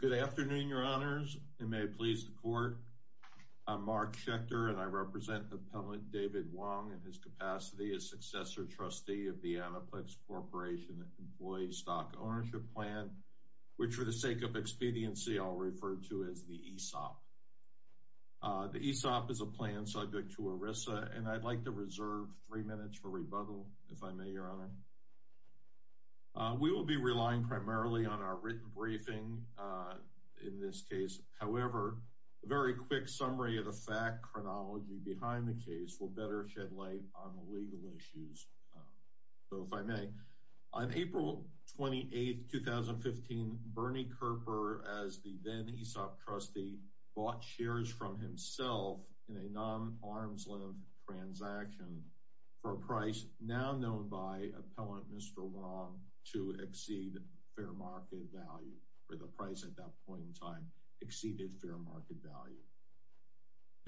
Good afternoon, Your Honors, and may it please the Court, I'm Mark Schechter, and I represent Appellant David Wong in his capacity as Successor Trustee of the Anaplex Corporation Employee Stock Ownership Plan, which for the sake of expediency I'll refer to as the ESOP. The ESOP is a plan subject to ERISA, and I'd like to reserve three minutes for rebuttal, if I may, Your Honor. We will be relying primarily on our written briefing in this case. However, a very quick summary of the fact chronology behind the case will better shed light on the legal issues. So, if I may, on April 28, 2015, Bernie Kerper, as the then ESOP trustee, bought shares from himself in a non-arm's-length transaction for a price now known by Appellant Mr. Wong to exceed fair market value, or the price at that point in time exceeded fair market value.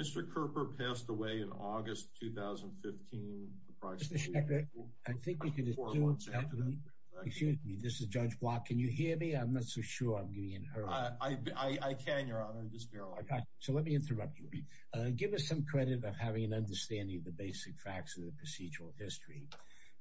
Mr. Kerper passed away in August 2015, approximately four months after that. Mr. Schechter, I think you could excuse me. This is Judge Block. Can you hear me? I'm not so sure. I can, Your Honor. So, let me interrupt you. Give us some credit of having an understanding of the basic facts of the procedural history,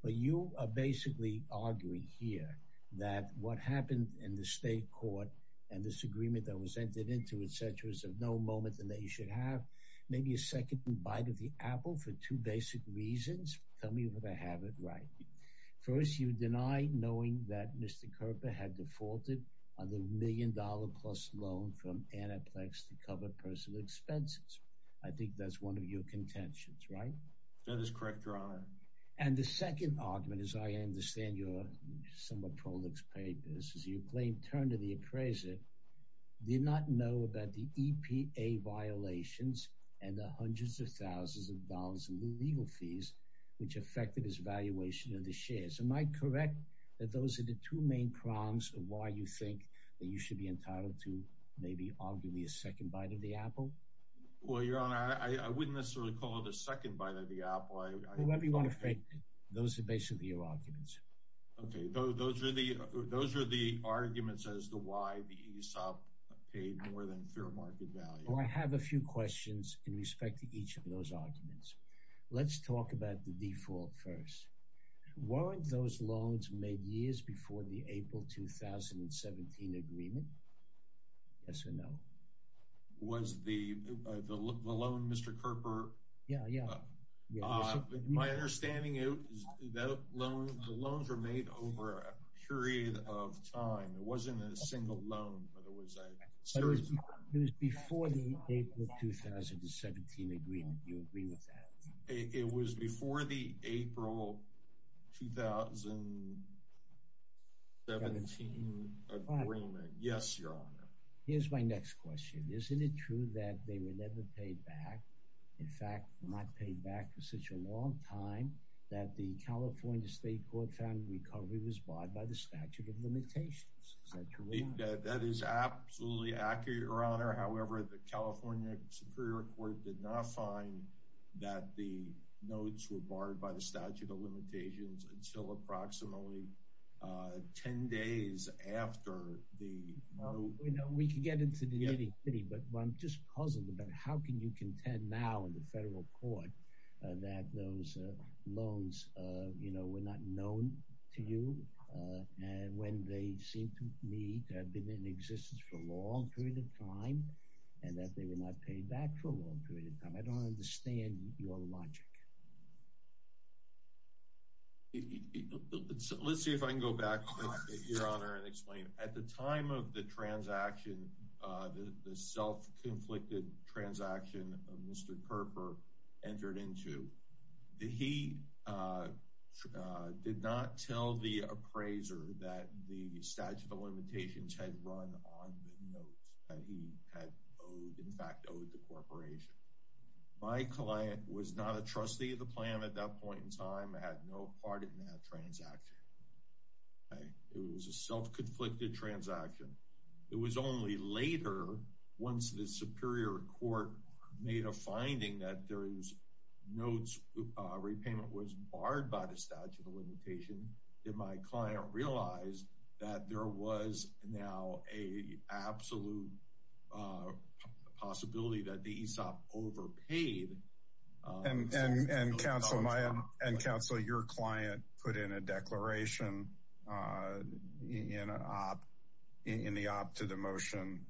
but you are basically arguing here that what happened in the state court and this agreement that was entered into, etc., is of no moment in the nation. Have maybe a second bite of the apple for two basic reasons. Tell me if I have it right. First, you deny knowing that Mr. Kerper had defaulted on the million-dollar-plus loan from Anaplex to cover personal expenses. I think that's one of your contentions, right? That is correct, Your Honor. And the second argument, as I understand your somewhat prolix papers, is you claim Turner, the appraiser, did not know about the EPA violations and the hundreds of thousands of dollars in legal fees which affected his valuation of the shares. Am I correct that those are the two main prongs of why you think that you should be entitled to maybe arguably a second bite of the apple? Well, Your Honor, I wouldn't necessarily call it a second bite of the apple. Whoever you want to fake it, those are basically your arguments. Okay, those are the arguments as to why the ESOP paid more than fair market value. Well, I have a few questions in each of those arguments. Let's talk about the default first. Weren't those loans made years before the April 2017 agreement? Yes or no? Was the loan, Mr. Kerper? Yeah, yeah. My understanding is the loans were made over a period of time. It wasn't a single loan, but it was a series. It was before the April 2017 agreement. Do you agree with that? It was before the April 2017 agreement. Yes, Your Honor. Here's my next question. Isn't it true that they were never paid back? In fact, not paid back for such a long time that the California State Court found the recovery was barred by the statute of limitations. Is that true? That is absolutely accurate, Your Honor. However, the California Superior Court did not find that the notes were barred by the statute of limitations until approximately 10 days after the loan. We can get into the nitty-gritty, but I'm just puzzled about how can you contend now the federal court that those loans, you know, were not known to you and when they seem to need have been in existence for a long period of time and that they were not paid back for a long period of time. I don't understand your logic. Let's see if I can go back, Your Honor, and explain at the time of the transaction, the self-conflicted transaction of Mr. Kerper entered into. He did not tell the appraiser that the statute of limitations had run on the notes that he had in fact owed the corporation. My client was not a trustee of the plan at that point in time, had no part in that transaction. It was a self-conflicted transaction. It was only later once the Superior Court made a finding that those notes repayment was barred by the statute of limitations that my client realized that there was now an absolute possibility that the ESOP overpaid. And counsel, your client put in a declaration in the op to the motion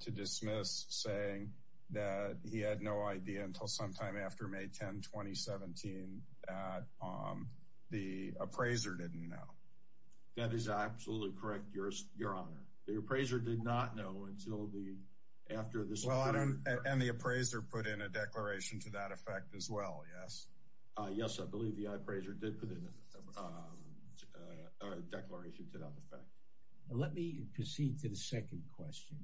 to dismiss saying that he had no idea until sometime after May 10, 2017 that the appraiser didn't know. That is absolutely correct, Your Honor. The appraiser did not know until the after this. And the appraiser put in a declaration to that effect as well, yes? Yes, I believe the appraiser did put in a declaration to that effect. Let me proceed to the second question.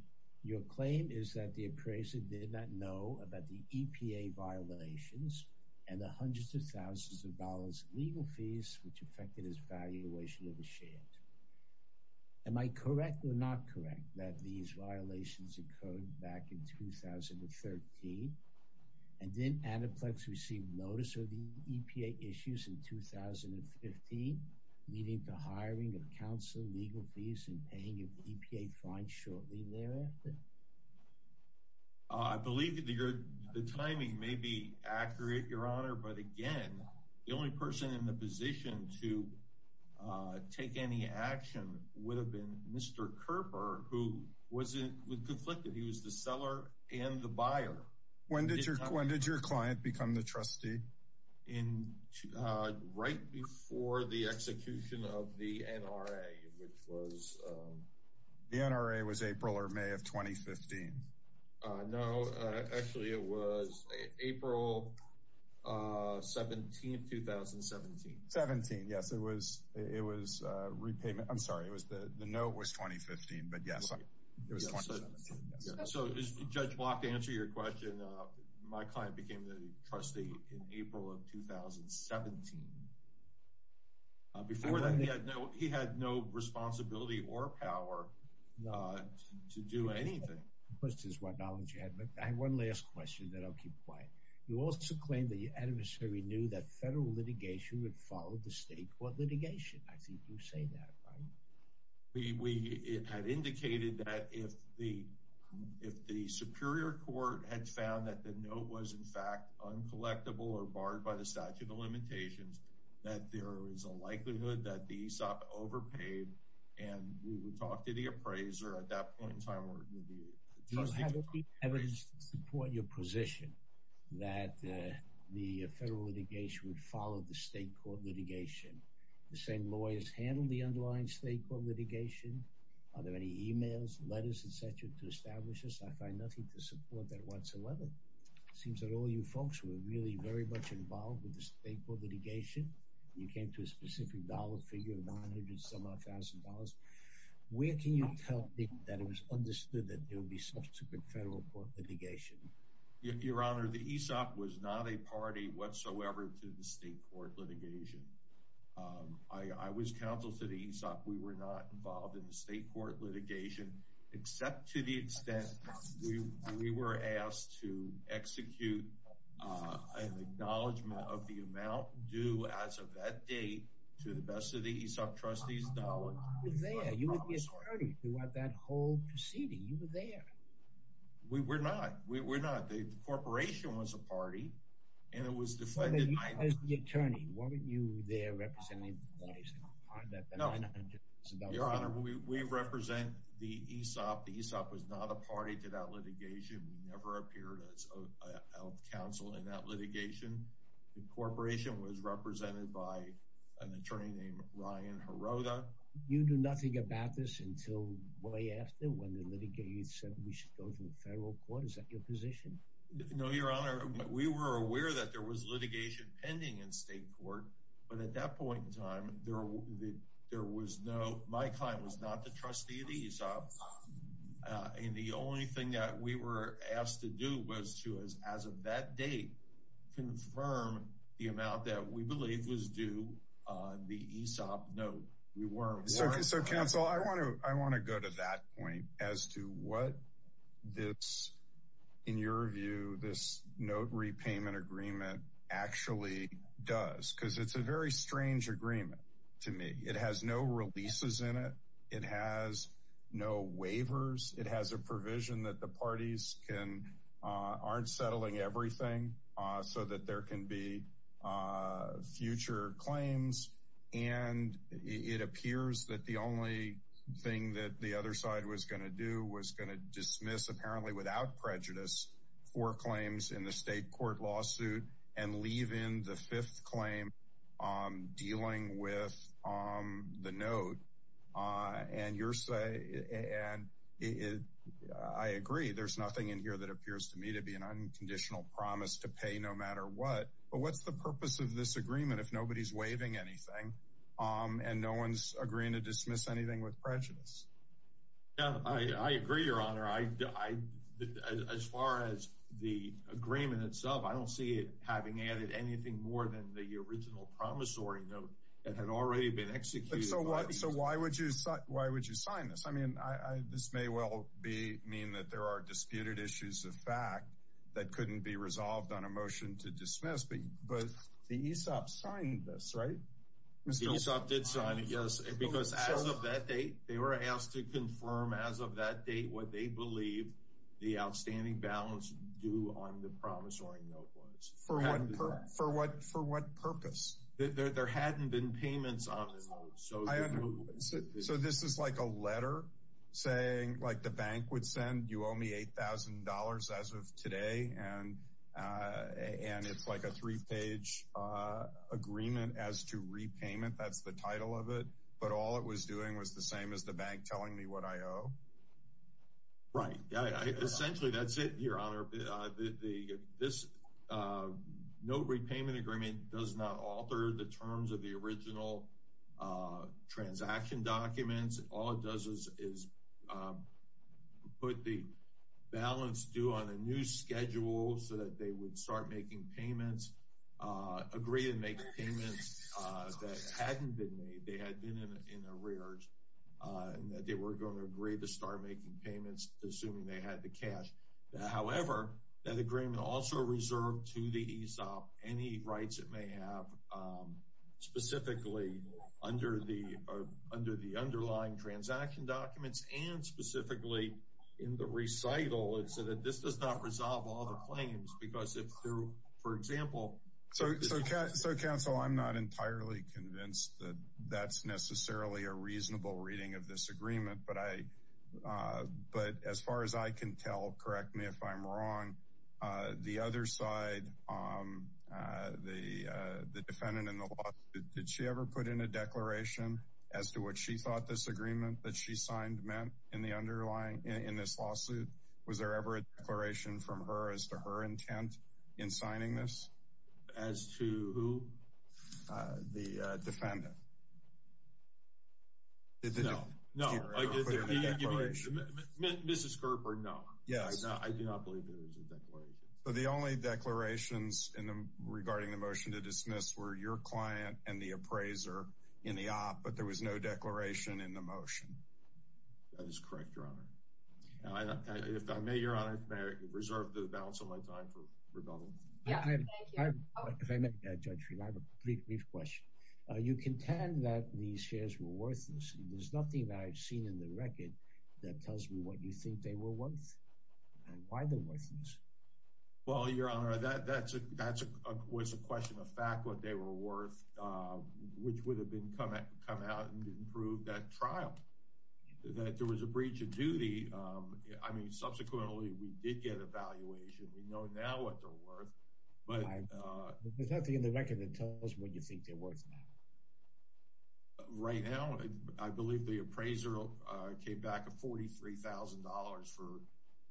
Your claim is that the appraiser did not know about the EPA violations and the hundreds of thousands of dollars legal fees which affected his valuation of the shares. Am I correct or not correct that these violations occurred back in 2013 and then Anaplex received notice of the EPA issues in 2015, leading to hiring of counsel, legal fees, and paying of the EPA fine shortly thereafter? I believe that the timing may be accurate, Your Honor, but again, the only person in the position to take any action would have been Mr. Kerper who was conflicted. He was the seller and the buyer. When did your client become the trustee? Right before the execution of the NRA, which was... The NRA was April or May of 2015? No, actually it was April 17, 2017. 17, yes. It was repayment. I'm sorry. The note was 2015, but yes. It was 2017, yes. So Judge Block, to answer your question, my client became the trustee in April of 2017. Before that, he had no responsibility or power to do anything. Of course, this is what knowledge you had, but I have one last question that I'll keep quiet. You also claim that your adversary knew that federal litigation would follow the state court litigation. Do you have any evidence to support your position that the federal litigation would follow the state court litigation? The same lawyers handle the underlying state court litigation. Are there any emails, letters, et cetera, to establish this? I find nothing to support that whatsoever. It seems that all you folks were really very much involved with the state court litigation. You came to a specific dollar figure of $900,000. Where can you tell me that it was understood that there would be subsequent federal court litigation? Your Honor, the ESOP was not a party whatsoever to the state court litigation. I was counsel to the ESOP. We were not involved in the state court litigation, except to the extent we were asked to execute an acknowledgment of the amount due as of that date to the best of the ESOP trustees' knowledge. You were there. You were his party throughout that whole proceeding. You were there. We were not. We were not. The corporation was a party, and it was defunded. As the attorney, weren't you there representing the $900,000? Your Honor, we represent the ESOP. The ESOP was not a party to that litigation. We never appeared as a counsel in that litigation. The corporation was represented by an attorney named Ryan Hirota. You knew nothing about this until way after when the litigate said we should go to the ESOP. We were aware that there was litigation pending in state court, but at that point in time, my client was not the trustee of the ESOP. The only thing that we were asked to do was to, as of that date, confirm the amount that we believe was due on the ESOP note. We weren't warned. Counsel, I want to go to that point as to what this, in your view, this note repayment agreement actually does, because it's a very strange agreement to me. It has no releases in it. It has no waivers. It has a provision that the parties aren't settling everything so that there can be future claims, and it appears that the only thing that the other side was going to do was going to dismiss, apparently without prejudice, four claims in the state court lawsuit and leave in the fifth claim dealing with the note. I agree. There's nothing in here that appears to me to be an unconditional promise to pay no matter what, but what's the purpose of this agreement if nobody's waiving anything and no one's agreeing to dismiss anything with prejudice? Yeah, I agree, Your Honor. As far as the agreement itself, I don't see it having added anything more than the original promissory note that had already been executed. So why would you sign this? I mean, this may well mean that there are disputed issues of fact that couldn't be resolved on a motion to dismiss, but the ESOP signed this, right? ESOP did sign it, yes, because as of that date, they were asked to confirm as of that date what they believe the outstanding balance due on the promissory note was. For what purpose? There hadn't been payments on the note. So this is like a letter saying like the bank would send, you owe me $8,000 as of today, and it's like a three-page agreement as to repayment. That's the title of it, but all it was doing was the same as the bank telling me what I owe. Right. Essentially, that's it, Your Honor. No repayment agreement does not alter the terms of original transaction documents. All it does is put the balance due on a new schedule so that they would start making payments, agree to make payments that hadn't been made, they had been in arrears, and that they were going to agree to start making payments assuming they had the cash. However, that agreement also reserved to the ESOP any rights it may have specifically under the underlying transaction documents and specifically in the recital. This does not resolve all the claims because if through, for example- So counsel, I'm not entirely convinced that that's necessarily a reasonable reading of this agreement, but as far as I can tell, correct me if I'm wrong, the other side, the defendant in the law, did she ever put in a declaration as to what she thought this agreement that she signed meant in this lawsuit? Was there ever a declaration from her as to her intent in signing this? As to who? The defendant. No. No. Mrs. Gerber, no. I do not believe there was a declaration. But the only declarations regarding the motion to dismiss were your client and the appraiser in the op, but there was no declaration in the motion. That is correct, Your Honor. If I may, Your Honor, if I may reserve the balance of my time for worthlessness, there's nothing that I've seen in the record that tells me what you think they were worth and why they're worthless. Well, Your Honor, that was a question of fact, what they were worth, which would have been come out and prove that trial, that there was a breach of duty. I mean, subsequently, we did get evaluation. We know now what they're worth, but- Right now, I believe the appraiser came back with $43,000 for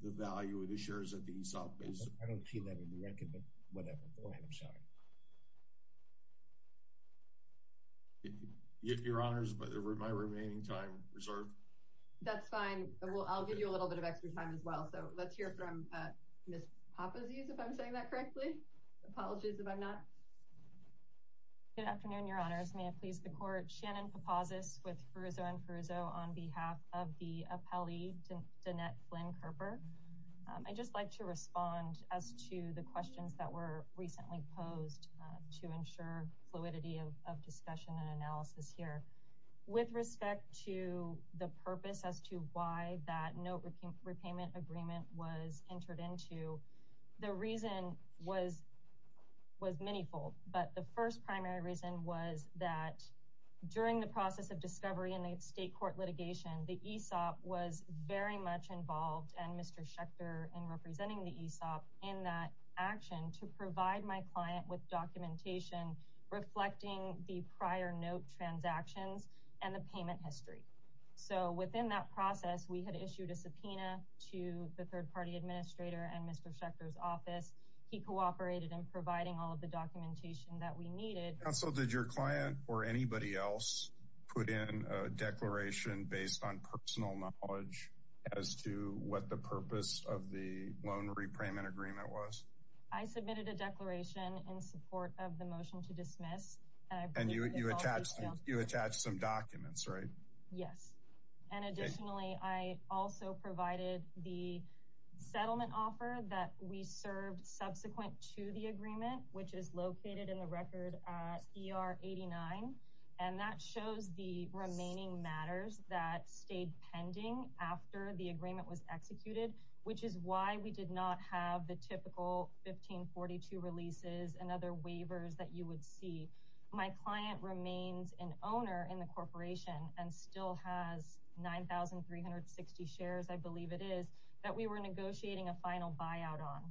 the value of the shares at the ESOP. I don't see that in the record, but whatever. Go ahead, I'm sorry. If Your Honor, is my remaining time reserved? That's fine. I'll give you a little bit of extra time as well. So let's hear from Ms. Papazios, if I'm saying that correctly. Apologies if I'm not. Good afternoon, Your Honors. May it please the Court. Shannon Papazios with Farizzo & Farizzo on behalf of the appellee, Danette Flynn-Kerper. I'd just like to respond as to the questions that were recently posed to ensure fluidity of discussion and analysis here. With respect to the purpose as to why that note repayment agreement was entered into, the reason was many-fold. But the first primary reason was that during the process of discovery in the state court litigation, the ESOP was very much involved, and Mr. Schechter in representing the ESOP in that action to provide my client with documentation reflecting the prior note transactions and the payment history. So within that process, we had issued a subpoena to the third-party administrator and Mr. Schechter's office. He cooperated in providing all of the documentation that we needed. Counsel, did your client or anybody else put in a declaration based on personal knowledge as to what the purpose of the loan repayment agreement was? I submitted a declaration in support of the motion to dismiss. And you attached some documents, right? Yes. And additionally, I also provided the settlement offer that we served subsequent to the agreement, which is located in the record at ER 89. And that shows the remaining matters that stayed pending after the agreement was executed, which is why we did not have the typical 1542 releases and other 360 shares, I believe it is, that we were negotiating a final buyout on.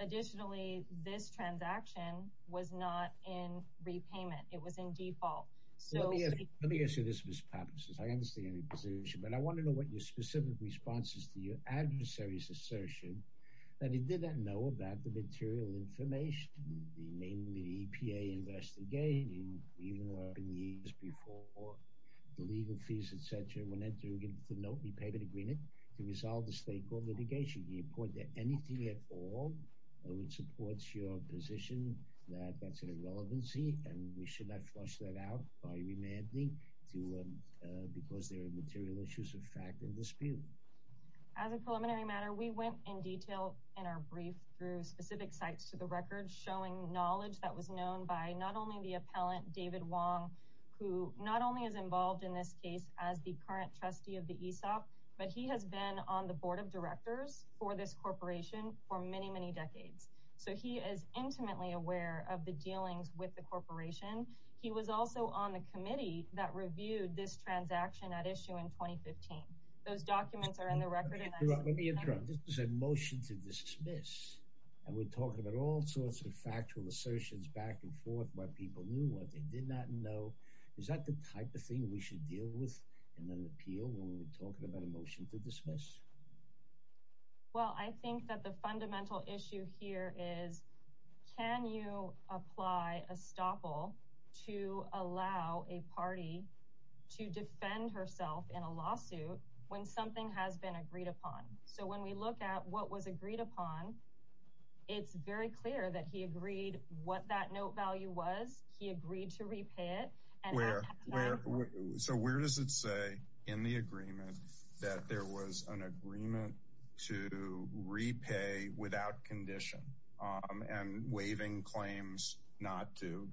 Additionally, this transaction was not in repayment. It was in default. Let me ask you this, Ms. Patterson. I understand your position, but I want to know what your specific response is to your adversary's assertion that he didn't know about the material information, namely the EPA investigating even more than years before, the legal fees, et cetera, when entering into the notary payment agreement to resolve the stakeholder litigation. Do you report that anything at all that would support your position that that's an irrelevancy and we should not flush that out by remanding because there are material issues of fact and dispute? As a preliminary matter, we went in detail in our brief through specific sites to the record showing knowledge that was known by not only the appellant David Wong, who not only is involved in this case as the current trustee of the ESOP, but he has been on the board of directors for this corporation for many, many decades. So he is intimately aware of the dealings with the corporation. He was also on the committee that reviewed this transaction at issue in 2015. Those documents are in the record. Let me interrupt. This is a motion to dismiss and we're talking about all sorts of factual assertions back and forth where people knew what they did not know. Is that the type of thing we should deal with in an appeal when we're talking about a motion to dismiss? Well, I think that the fundamental issue here is can you apply a stopple to allow a party to defend herself in a lawsuit when something has been agreed upon? So when we look at what was what that note value was, he agreed to repay it. So where does it say in the agreement that there was an agreement to repay without condition and waiving claims not to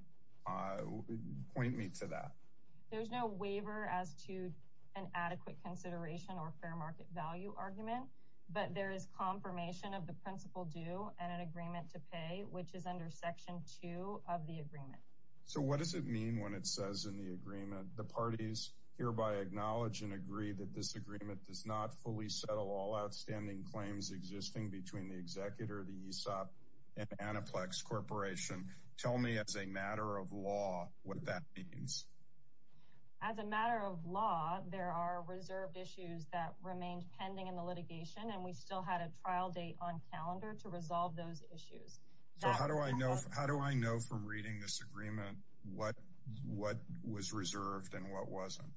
point me to that? There's no waiver as to an adequate consideration or fair market value argument, but there is confirmation of the principal due and an section two of the agreement. So what does it mean when it says in the agreement the parties hereby acknowledge and agree that this agreement does not fully settle all outstanding claims existing between the executor, the ESOP and Anaplex Corporation? Tell me as a matter of law what that means. As a matter of law, there are reserved issues that remained pending in the litigation and we still had a trial date on calendar to resolve those issues. So how do I know how do I know from reading this agreement what what was reserved and what wasn't?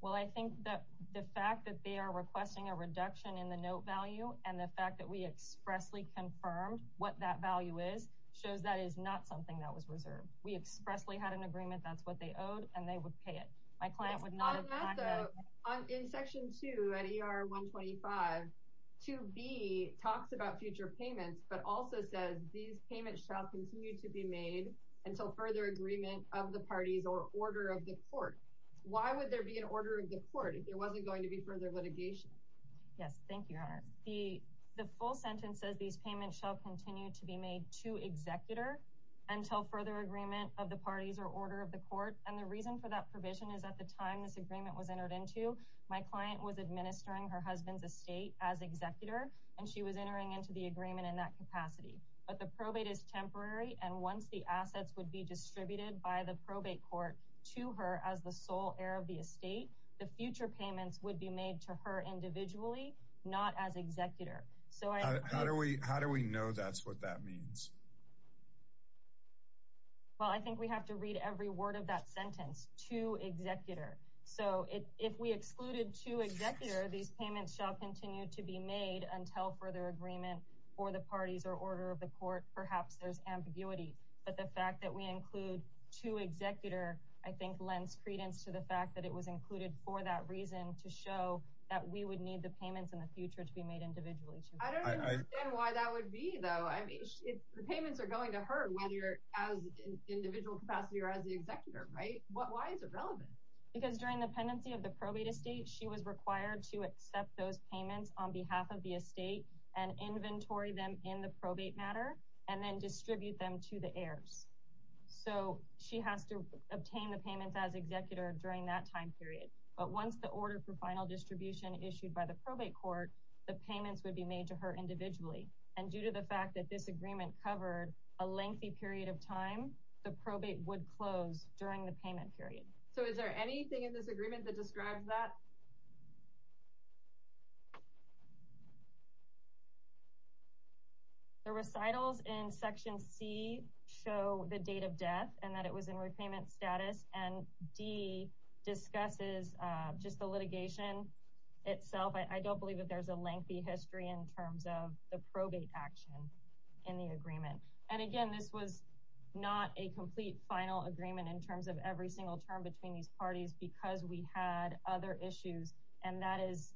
Well, I think that the fact that they are requesting a reduction in the note value and the fact that we expressly confirmed what that value is shows that is not something that was reserved. We expressly had an agreement that's what they owed and they would pay it. My client would not have. In section two at ER 125, 2B talks about future payments but also says these payments shall continue to be made until further agreement of the parties or order of the court. Why would there be an order of the court if there wasn't going to be further litigation? Yes, thank you, your honor. The full sentence says these payments shall continue to be made to executor until further agreement of the parties or order of the court and the reason for that provision is at the time this agreement was entered into my client was administering her husband's estate as executor and she was entering into the agreement in that capacity but the probate is temporary and once the assets would be distributed by the probate court to her as the sole heir of the estate, the future payments would be made to her individually not as executor. So how do we how do we know that's what that means? Well, I think we have to read every word of that sentence to executor so it if we excluded to executor these payments shall continue to be made until further agreement for the parties or order of the court perhaps there's ambiguity but the fact that we include to executor I think lends credence to the fact that it was included for that reason to show that we would need the payments in the future to be made individually. I don't understand why that would be though I mean if the payments are going to her whether as an individual capacity or as the executor right what why is it relevant? Because during the pendency of the probate estate she was required to accept those payments on behalf of the estate and inventory them in the probate matter and then distribute them to the heirs so she has to obtain the payments as executor during that time period but once the order for final distribution issued by the probate court the payments would be made to her individually and due to the fact that this agreement covered a lengthy period of time the probate would close during the payment period. So is there anything in this agreement that describes that? The recitals in section C show the date of death and that it was in repayment status and D discusses just the litigation itself I don't believe that there's a lengthy history in terms of the probate action in the agreement and again this was not a complete final agreement in terms of every single term between these parties because we had other issues and that is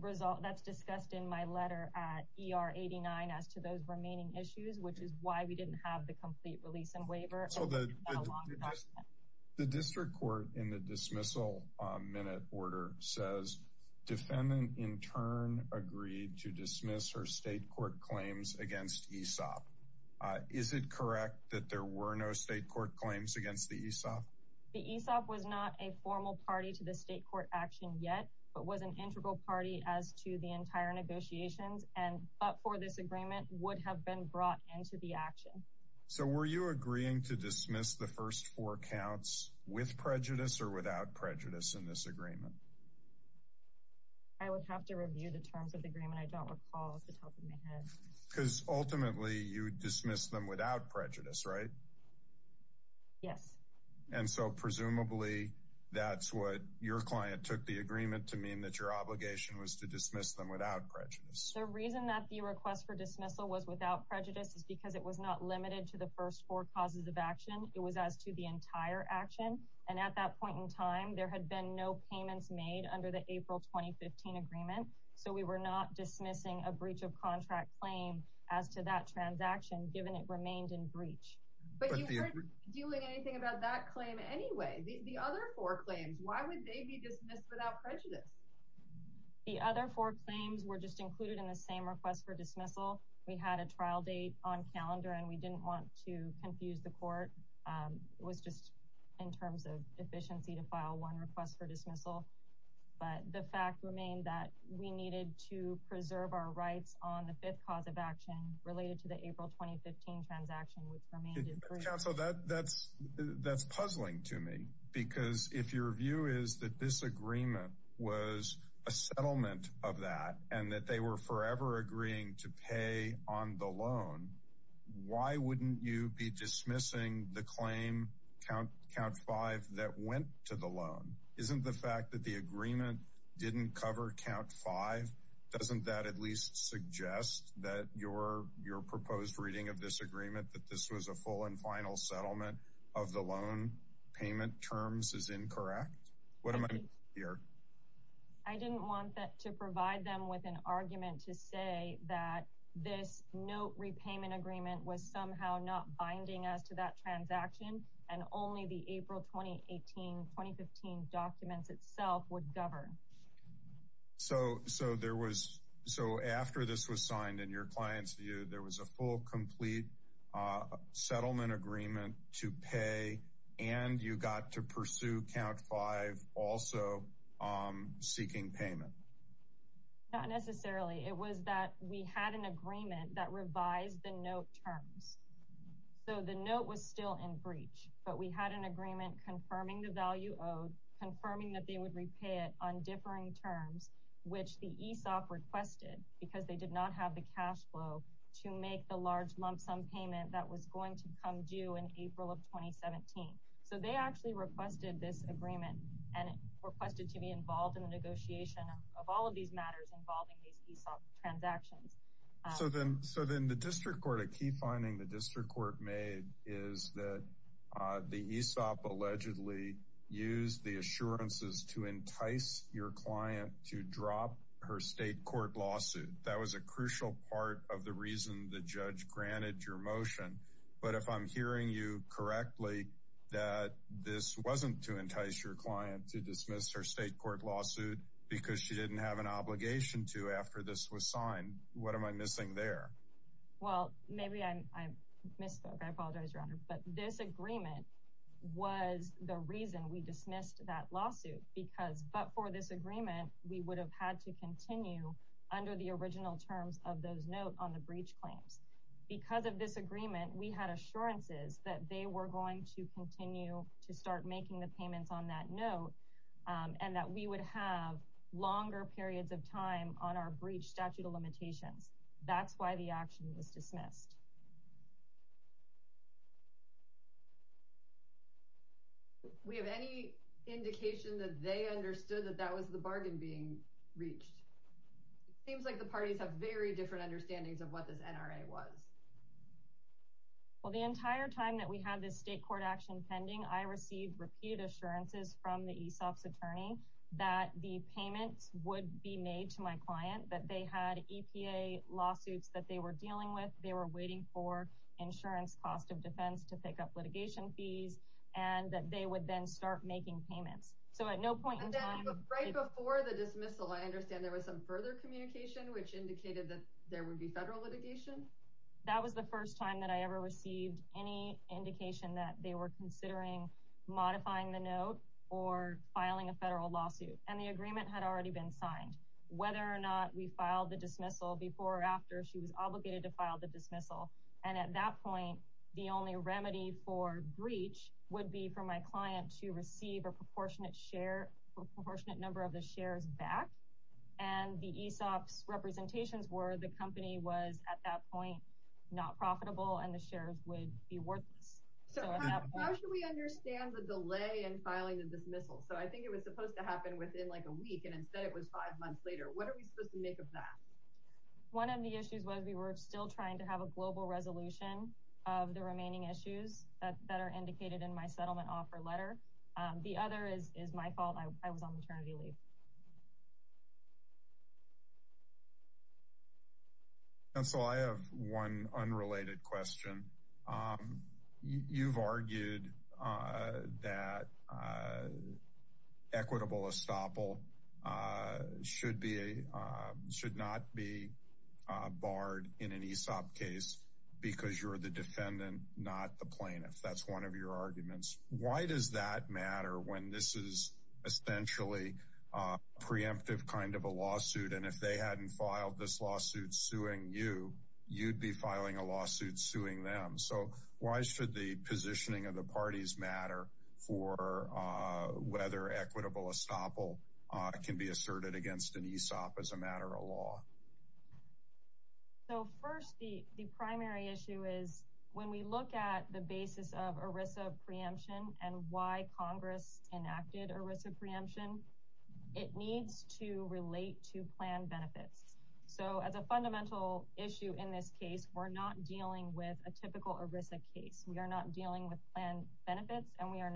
result that's discussed in my letter at ER 89 as to those remaining issues which is why we didn't have the complete release and waiver. So the district court in the dismissal minute order says defendant in turn agreed to dismiss her state court claims against ESOP. Is it correct that there were no state court claims against the ESOP? The ESOP was not a formal party to the state court action yet but was an integral party as to the entire negotiations and but for this agreement would have been brought into the action. So were you agreeing to dismiss the first four counts with prejudice or without prejudice in this agreement? I would have to review the terms of the agreement I don't recall off the top of my head. Because ultimately you dismiss them without prejudice right? Yes. And so presumably that's what your client took the agreement to mean that your obligation was to dismiss them without prejudice. The reason that the request for dismissal was without prejudice is because it was not limited to the first four causes of action. It was as to the entire action and at that point in time there had been no payments made under the April 2015 agreement. So we were not dismissing a breach of contract claim as to that transaction given it remained in breach. But you weren't doing anything about that claim anyway the other four claims why would they be dismissed without prejudice? The other four claims were just included in the same request for dismissal. We had a trial date on calendar and we didn't want to confuse the court. It was just in terms of efficiency to file one request for dismissal. But the fact remained that we needed to preserve our rights on the fifth cause of action related to the April 2015 transaction. Counsel that that's that's puzzling to me because if your view is that this agreement was a settlement of that and that they were forever agreeing to pay on the loan why wouldn't you be dismissing the claim count five that went to the loan? Isn't the fact that the agreement didn't cover count five doesn't that at least suggest that your your proposed reading of this agreement that this was a full and final settlement of the loan payment terms is incorrect? What am I here? I didn't want that to provide them with an argument to say that this note repayment agreement was somehow not binding as to that transaction and only the April 2018 2015 documents itself would govern. So so there was so after this was signed in your client's view there was a full complete settlement agreement to pay and you got to pursue count five also seeking payment. Not necessarily it was that we had an agreement that revised the note terms so the note was still in breach but we had an agreement confirming the value owed confirming that they would repay it on differing terms which the ESOP requested because they did not have the cash flow to make the large lump sum payment that was going to come due in April of 2017. So they actually requested this agreement and requested to be involved in the negotiation of all of these matters involving these ESOP transactions. So then so then the district court a key finding the district court made is that the ESOP allegedly used the assurances to of the reason the judge granted your motion but if I'm hearing you correctly that this wasn't to entice your client to dismiss her state court lawsuit because she didn't have an obligation to after this was signed. What am I missing there? Well maybe I'm I misspoke I apologize your honor but this agreement was the reason we dismissed that lawsuit because but for this agreement we would have had to continue under the original terms of those note on the breach claims because of this agreement we had assurances that they were going to continue to start making the payments on that note and that we would have longer periods of time on our breach statute of limitations. That's why the action was dismissed. We have any indication that they understood that that was the bargain being reached. It seems like the parties have very different understandings of what this NRA was. Well the entire time that we had this state court action pending I received repeated assurances from the ESOP's attorney that the payments would be made to my client that they had EPA lawsuits that they were dealing with they were waiting for insurance to be paid for. Insurance cost of defense to pick up litigation fees and that they would then start making payments. So at no point right before the dismissal I understand there was some further communication which indicated that there would be federal litigation. That was the first time that I ever received any indication that they were considering modifying the note or filing a federal lawsuit and the agreement had already been signed whether or not we filed the dismissal before or after she was obligated to file the dismissal and at that point the only remedy for breach would be for my client to receive a proportionate share a proportionate number of the shares back and the ESOP's representations were the company was at that point not profitable and the shares would be worthless. So how should we understand the delay in filing the dismissal? So I think it was supposed to happen within like a week and instead it was five months later. What are we supposed to make of that? One of the issues was we were still trying to have a global resolution of the remaining issues that are indicated in my settlement offer letter. The other is is my fault I was on maternity leave. Counsel I have one unrelated question. You've argued that equitable estoppel should not be barred in an ESOP case because you're the defendant not the plaintiff. That's one of your arguments. Why does that matter when this is essentially a preemptive kind of a lawsuit and if they hadn't filed this lawsuit suing you, you'd be filing a lawsuit suing them. So why should the positioning of the parties matter for whether equitable estoppel can be asserted against an ESOP as a matter of law? So first the primary issue is when we look at the basis of ERISA preemption and why Congress enacted ERISA preemption, it needs to relate to plan benefits. So as a fundamental issue in this case we're not dealing with a typical ERISA case. We are not dealing with plan benefits and we are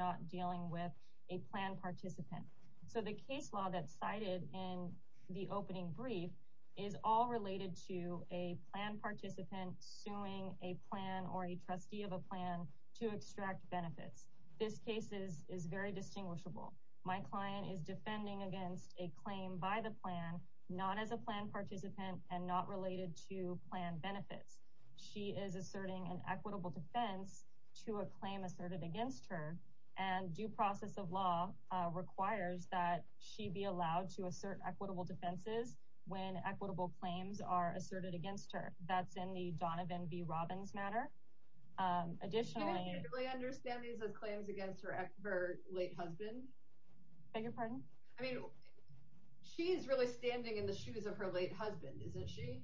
case law that cited in the opening brief is all related to a plan participant suing a plan or a trustee of a plan to extract benefits. This case is very distinguishable. My client is defending against a claim by the plan not as a plan participant and not related to plan benefits. She is asserting an equitable defense to a claim asserted against her and due process of law requires that she be allowed to assert equitable defenses when equitable claims are asserted against her. That's in the Donovan v. Robbins matter. Additionally... Do you really understand these as claims against her late husband? Beg your pardon? I mean she's really standing in the shoes of her late husband, isn't she?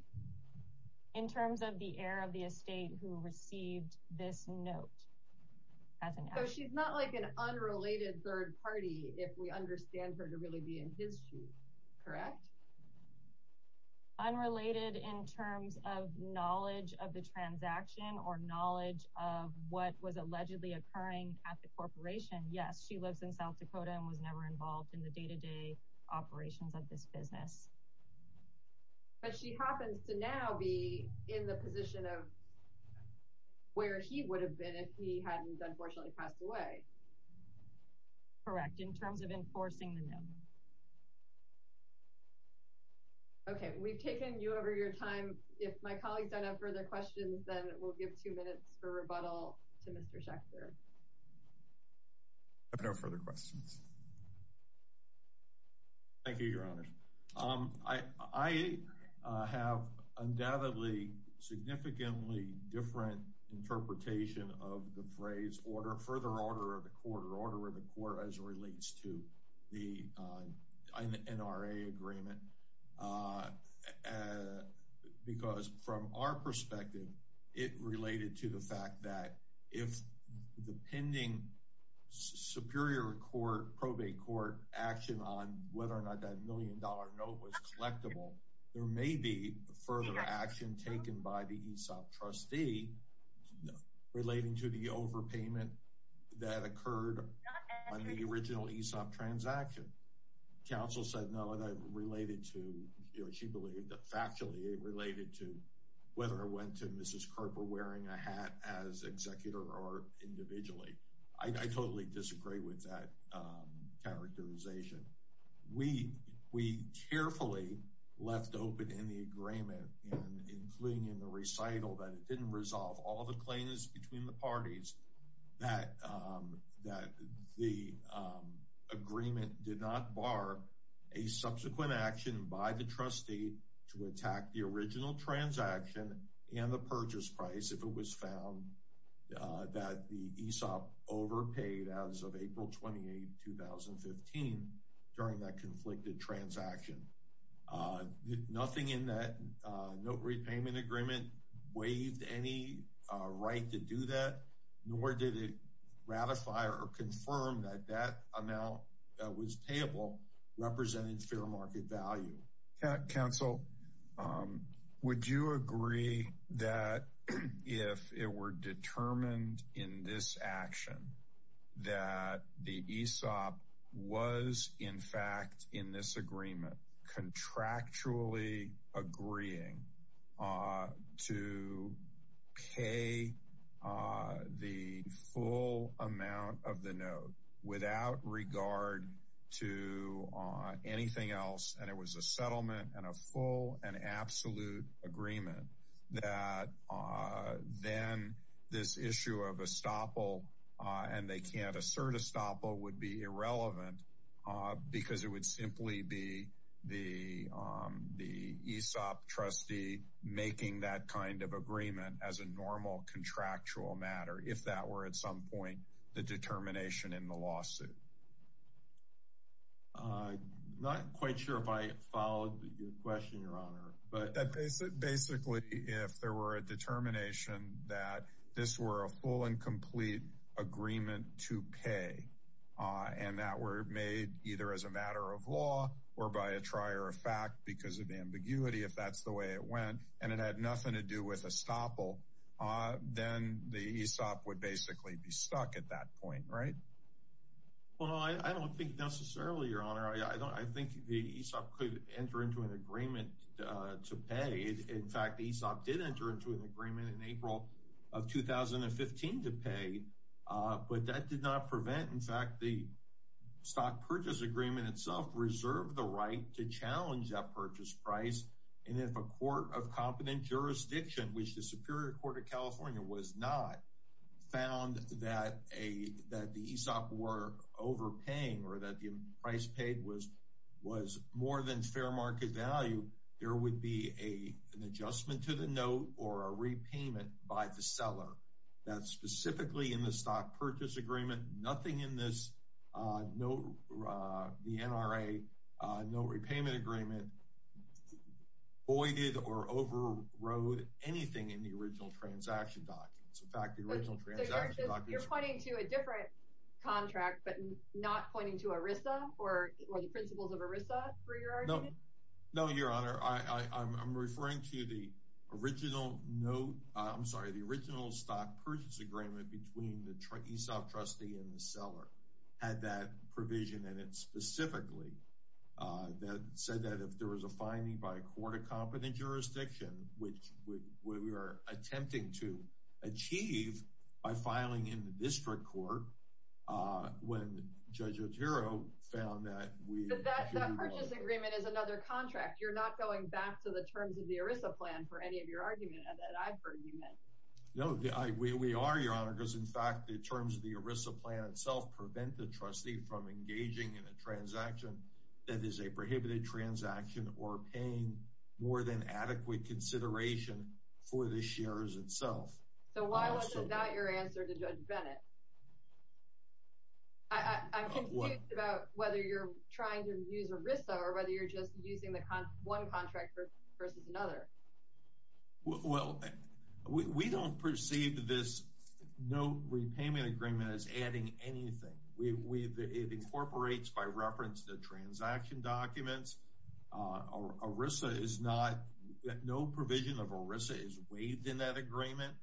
In terms of the heir of the estate who received this note. So she's not like an unrelated third party if we understand her to really be in his shoes, correct? Unrelated in terms of knowledge of the transaction or knowledge of what was allegedly occurring at the corporation. Yes, she lives in South Dakota and was never involved in the day-to-day operations of this business. But she happens to now be in the position of where he would have been if he hadn't unfortunately passed away. Correct, in terms of enforcing the note. Okay, we've taken you over your time. If my colleagues don't have further questions, then we'll give two minutes for rebuttal to Mr. Schechter. I have no further questions. Thank you, your honor. I have undoubtedly significantly different interpretation of the phrase further order of the court or order of the court as it relates to the NRA agreement. Because from our perspective, it related to the fact that if the pending superior court, probate court action on whether or not that million dollar note was collectible, there may be further action taken by the ESOP trustee relating to the overpayment that occurred on the original ESOP transaction. Counsel said no, and I related to, you know, she believed that factually it related to whether or when to Mrs. Kerper wearing a hat as executor or individually. I totally disagree with that characterization. We carefully left open in the agreement and including in the recital that it didn't resolve all the claims between the parties that the agreement did not bar a subsequent action by the trustee to attack the original transaction and the purchase price if it was found that the ESOP overpaid as of April 28, 2015 during that conflicted transaction. Nothing in that note repayment agreement waived any right to do that, nor did it ratify or confirm that that amount that was payable represented fair market value. Counsel, would you agree that if it were determined in this action that the ESOP was in fact in this agreement contractually agreeing to pay the full amount of the note without regard to anything else, and it was a settlement and a full and absolute agreement, that then this issue of estoppel, and they can't assert estoppel, would be irrelevant because it would simply be the ESOP trustee making that kind of agreement as a normal contractual matter if that were at some point the determination in the lawsuit? I'm not quite sure if I followed your question, your honor, but basically if there were a determination that this were a full and complete agreement to pay and that were made either as a matter of law or by a trier of fact because of ambiguity if that's the way it went and it had nothing to do with estoppel, then the ESOP would basically be stuck at that point, right? I don't think necessarily, your honor. I think the ESOP could enter into an agreement to pay. In fact, ESOP did enter into an agreement in April of 2015 to pay, but that did not prevent, in fact, the stock purchase agreement itself reserved the right to challenge that purchase price. And if a court of competent jurisdiction, which the Superior Court of California was not, found that the ESOP were overpaying or that the price paid was more than fair market value, there would be an adjustment to the note or a repayment by the seller that specifically in the stock purchase agreement, nothing in the NRA note repayment agreement voided or overrode anything in the original transaction documents. In fact, the original transaction documents... So you're pointing to a different contract, but not pointing to ERISA or the principles of ERISA, for your argument? No, your honor. I'm referring to the original note, I'm sorry, the original stock purchase agreement between the ESOP trustee and the seller had that provision in it specifically that said that if there was a finding by a court of competent jurisdiction, which we were attempting to achieve by filing in the district court when Judge Otero found that we... But that purchase agreement is another contract. You're not going back to the terms of the ERISA plan for any of your argument that I've heard you make. No, we are, your honor, because in fact, the terms of the ERISA plan itself prevent the trustee from making a transaction that is a prohibited transaction or paying more than adequate consideration for the shares itself. So why wasn't that your answer to Judge Bennett? I'm confused about whether you're trying to use ERISA or whether you're just using the one contract versus another. Well, we don't perceive this note repayment agreement as adding anything. It incorporates by reference the transaction documents. No provision of ERISA is waived in that agreement.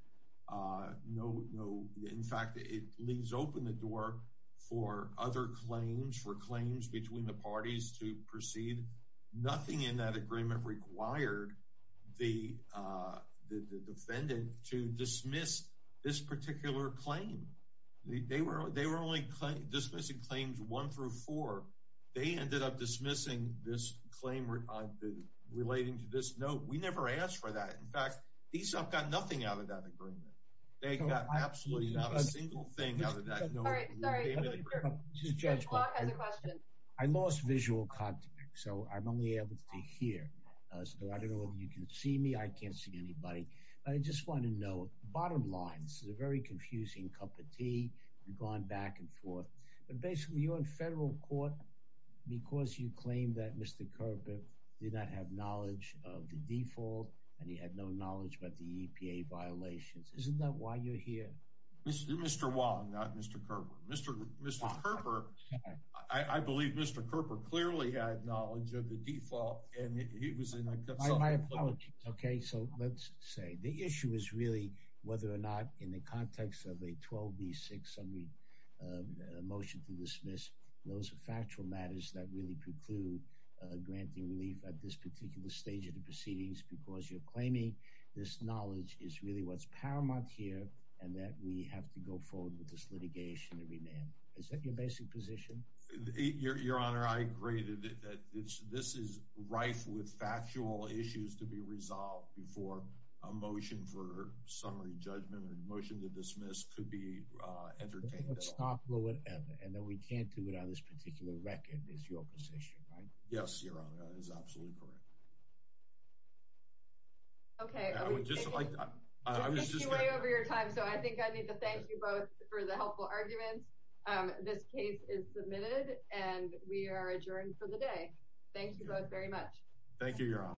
In fact, it leaves open the door for other claims, for claims between the parties to proceed. Nothing in that agreement required the defendant to dismiss this particular claim. They were only dismissing claims one through four. They ended up dismissing this claim relating to this note. We never asked for that. In fact, ESOP got nothing out of that agreement. They got absolutely not a single thing out of that note. All right, sorry, Judge Clark has a question. I lost visual contact, so I'm only able to hear. So I don't know if you can see me. I can't see anybody. I just want to know, bottom line, this is a very confusing cup of tea. We've gone back and forth. But basically, you're in federal court because you claim that Mr. Kerper did not have knowledge of the default, and he had no knowledge about the EPA violations. Isn't that why you're here? Mr. Wong, not Mr. Kerper. Mr. Kerper, I believe Mr. Kerper clearly had knowledge of the default, and he was in a subpoena. My apologies, okay? So let's say the issue is really whether or not, in the context of a 12B600 motion to dismiss, those are factual matters that really preclude granting relief at this particular stage of the proceedings, because you're claiming this knowledge is really what's paramount here, and that we have to go forward with this litigation and remand. Is that your basic position? Your Honor, I agree that this is rife with factual issues to be resolved before a motion for summary judgment or a motion to dismiss could be entertained at all. Let's stop, and then we can't do it on this particular record, is your position, right? Yes, Your Honor, that is absolutely correct. Okay. I would just like to— We're way over your time, so I think I need to thank you both for the helpful arguments. This case is submitted, and we are adjourned for the day. Thank you both very much. Thank you, Your Honor.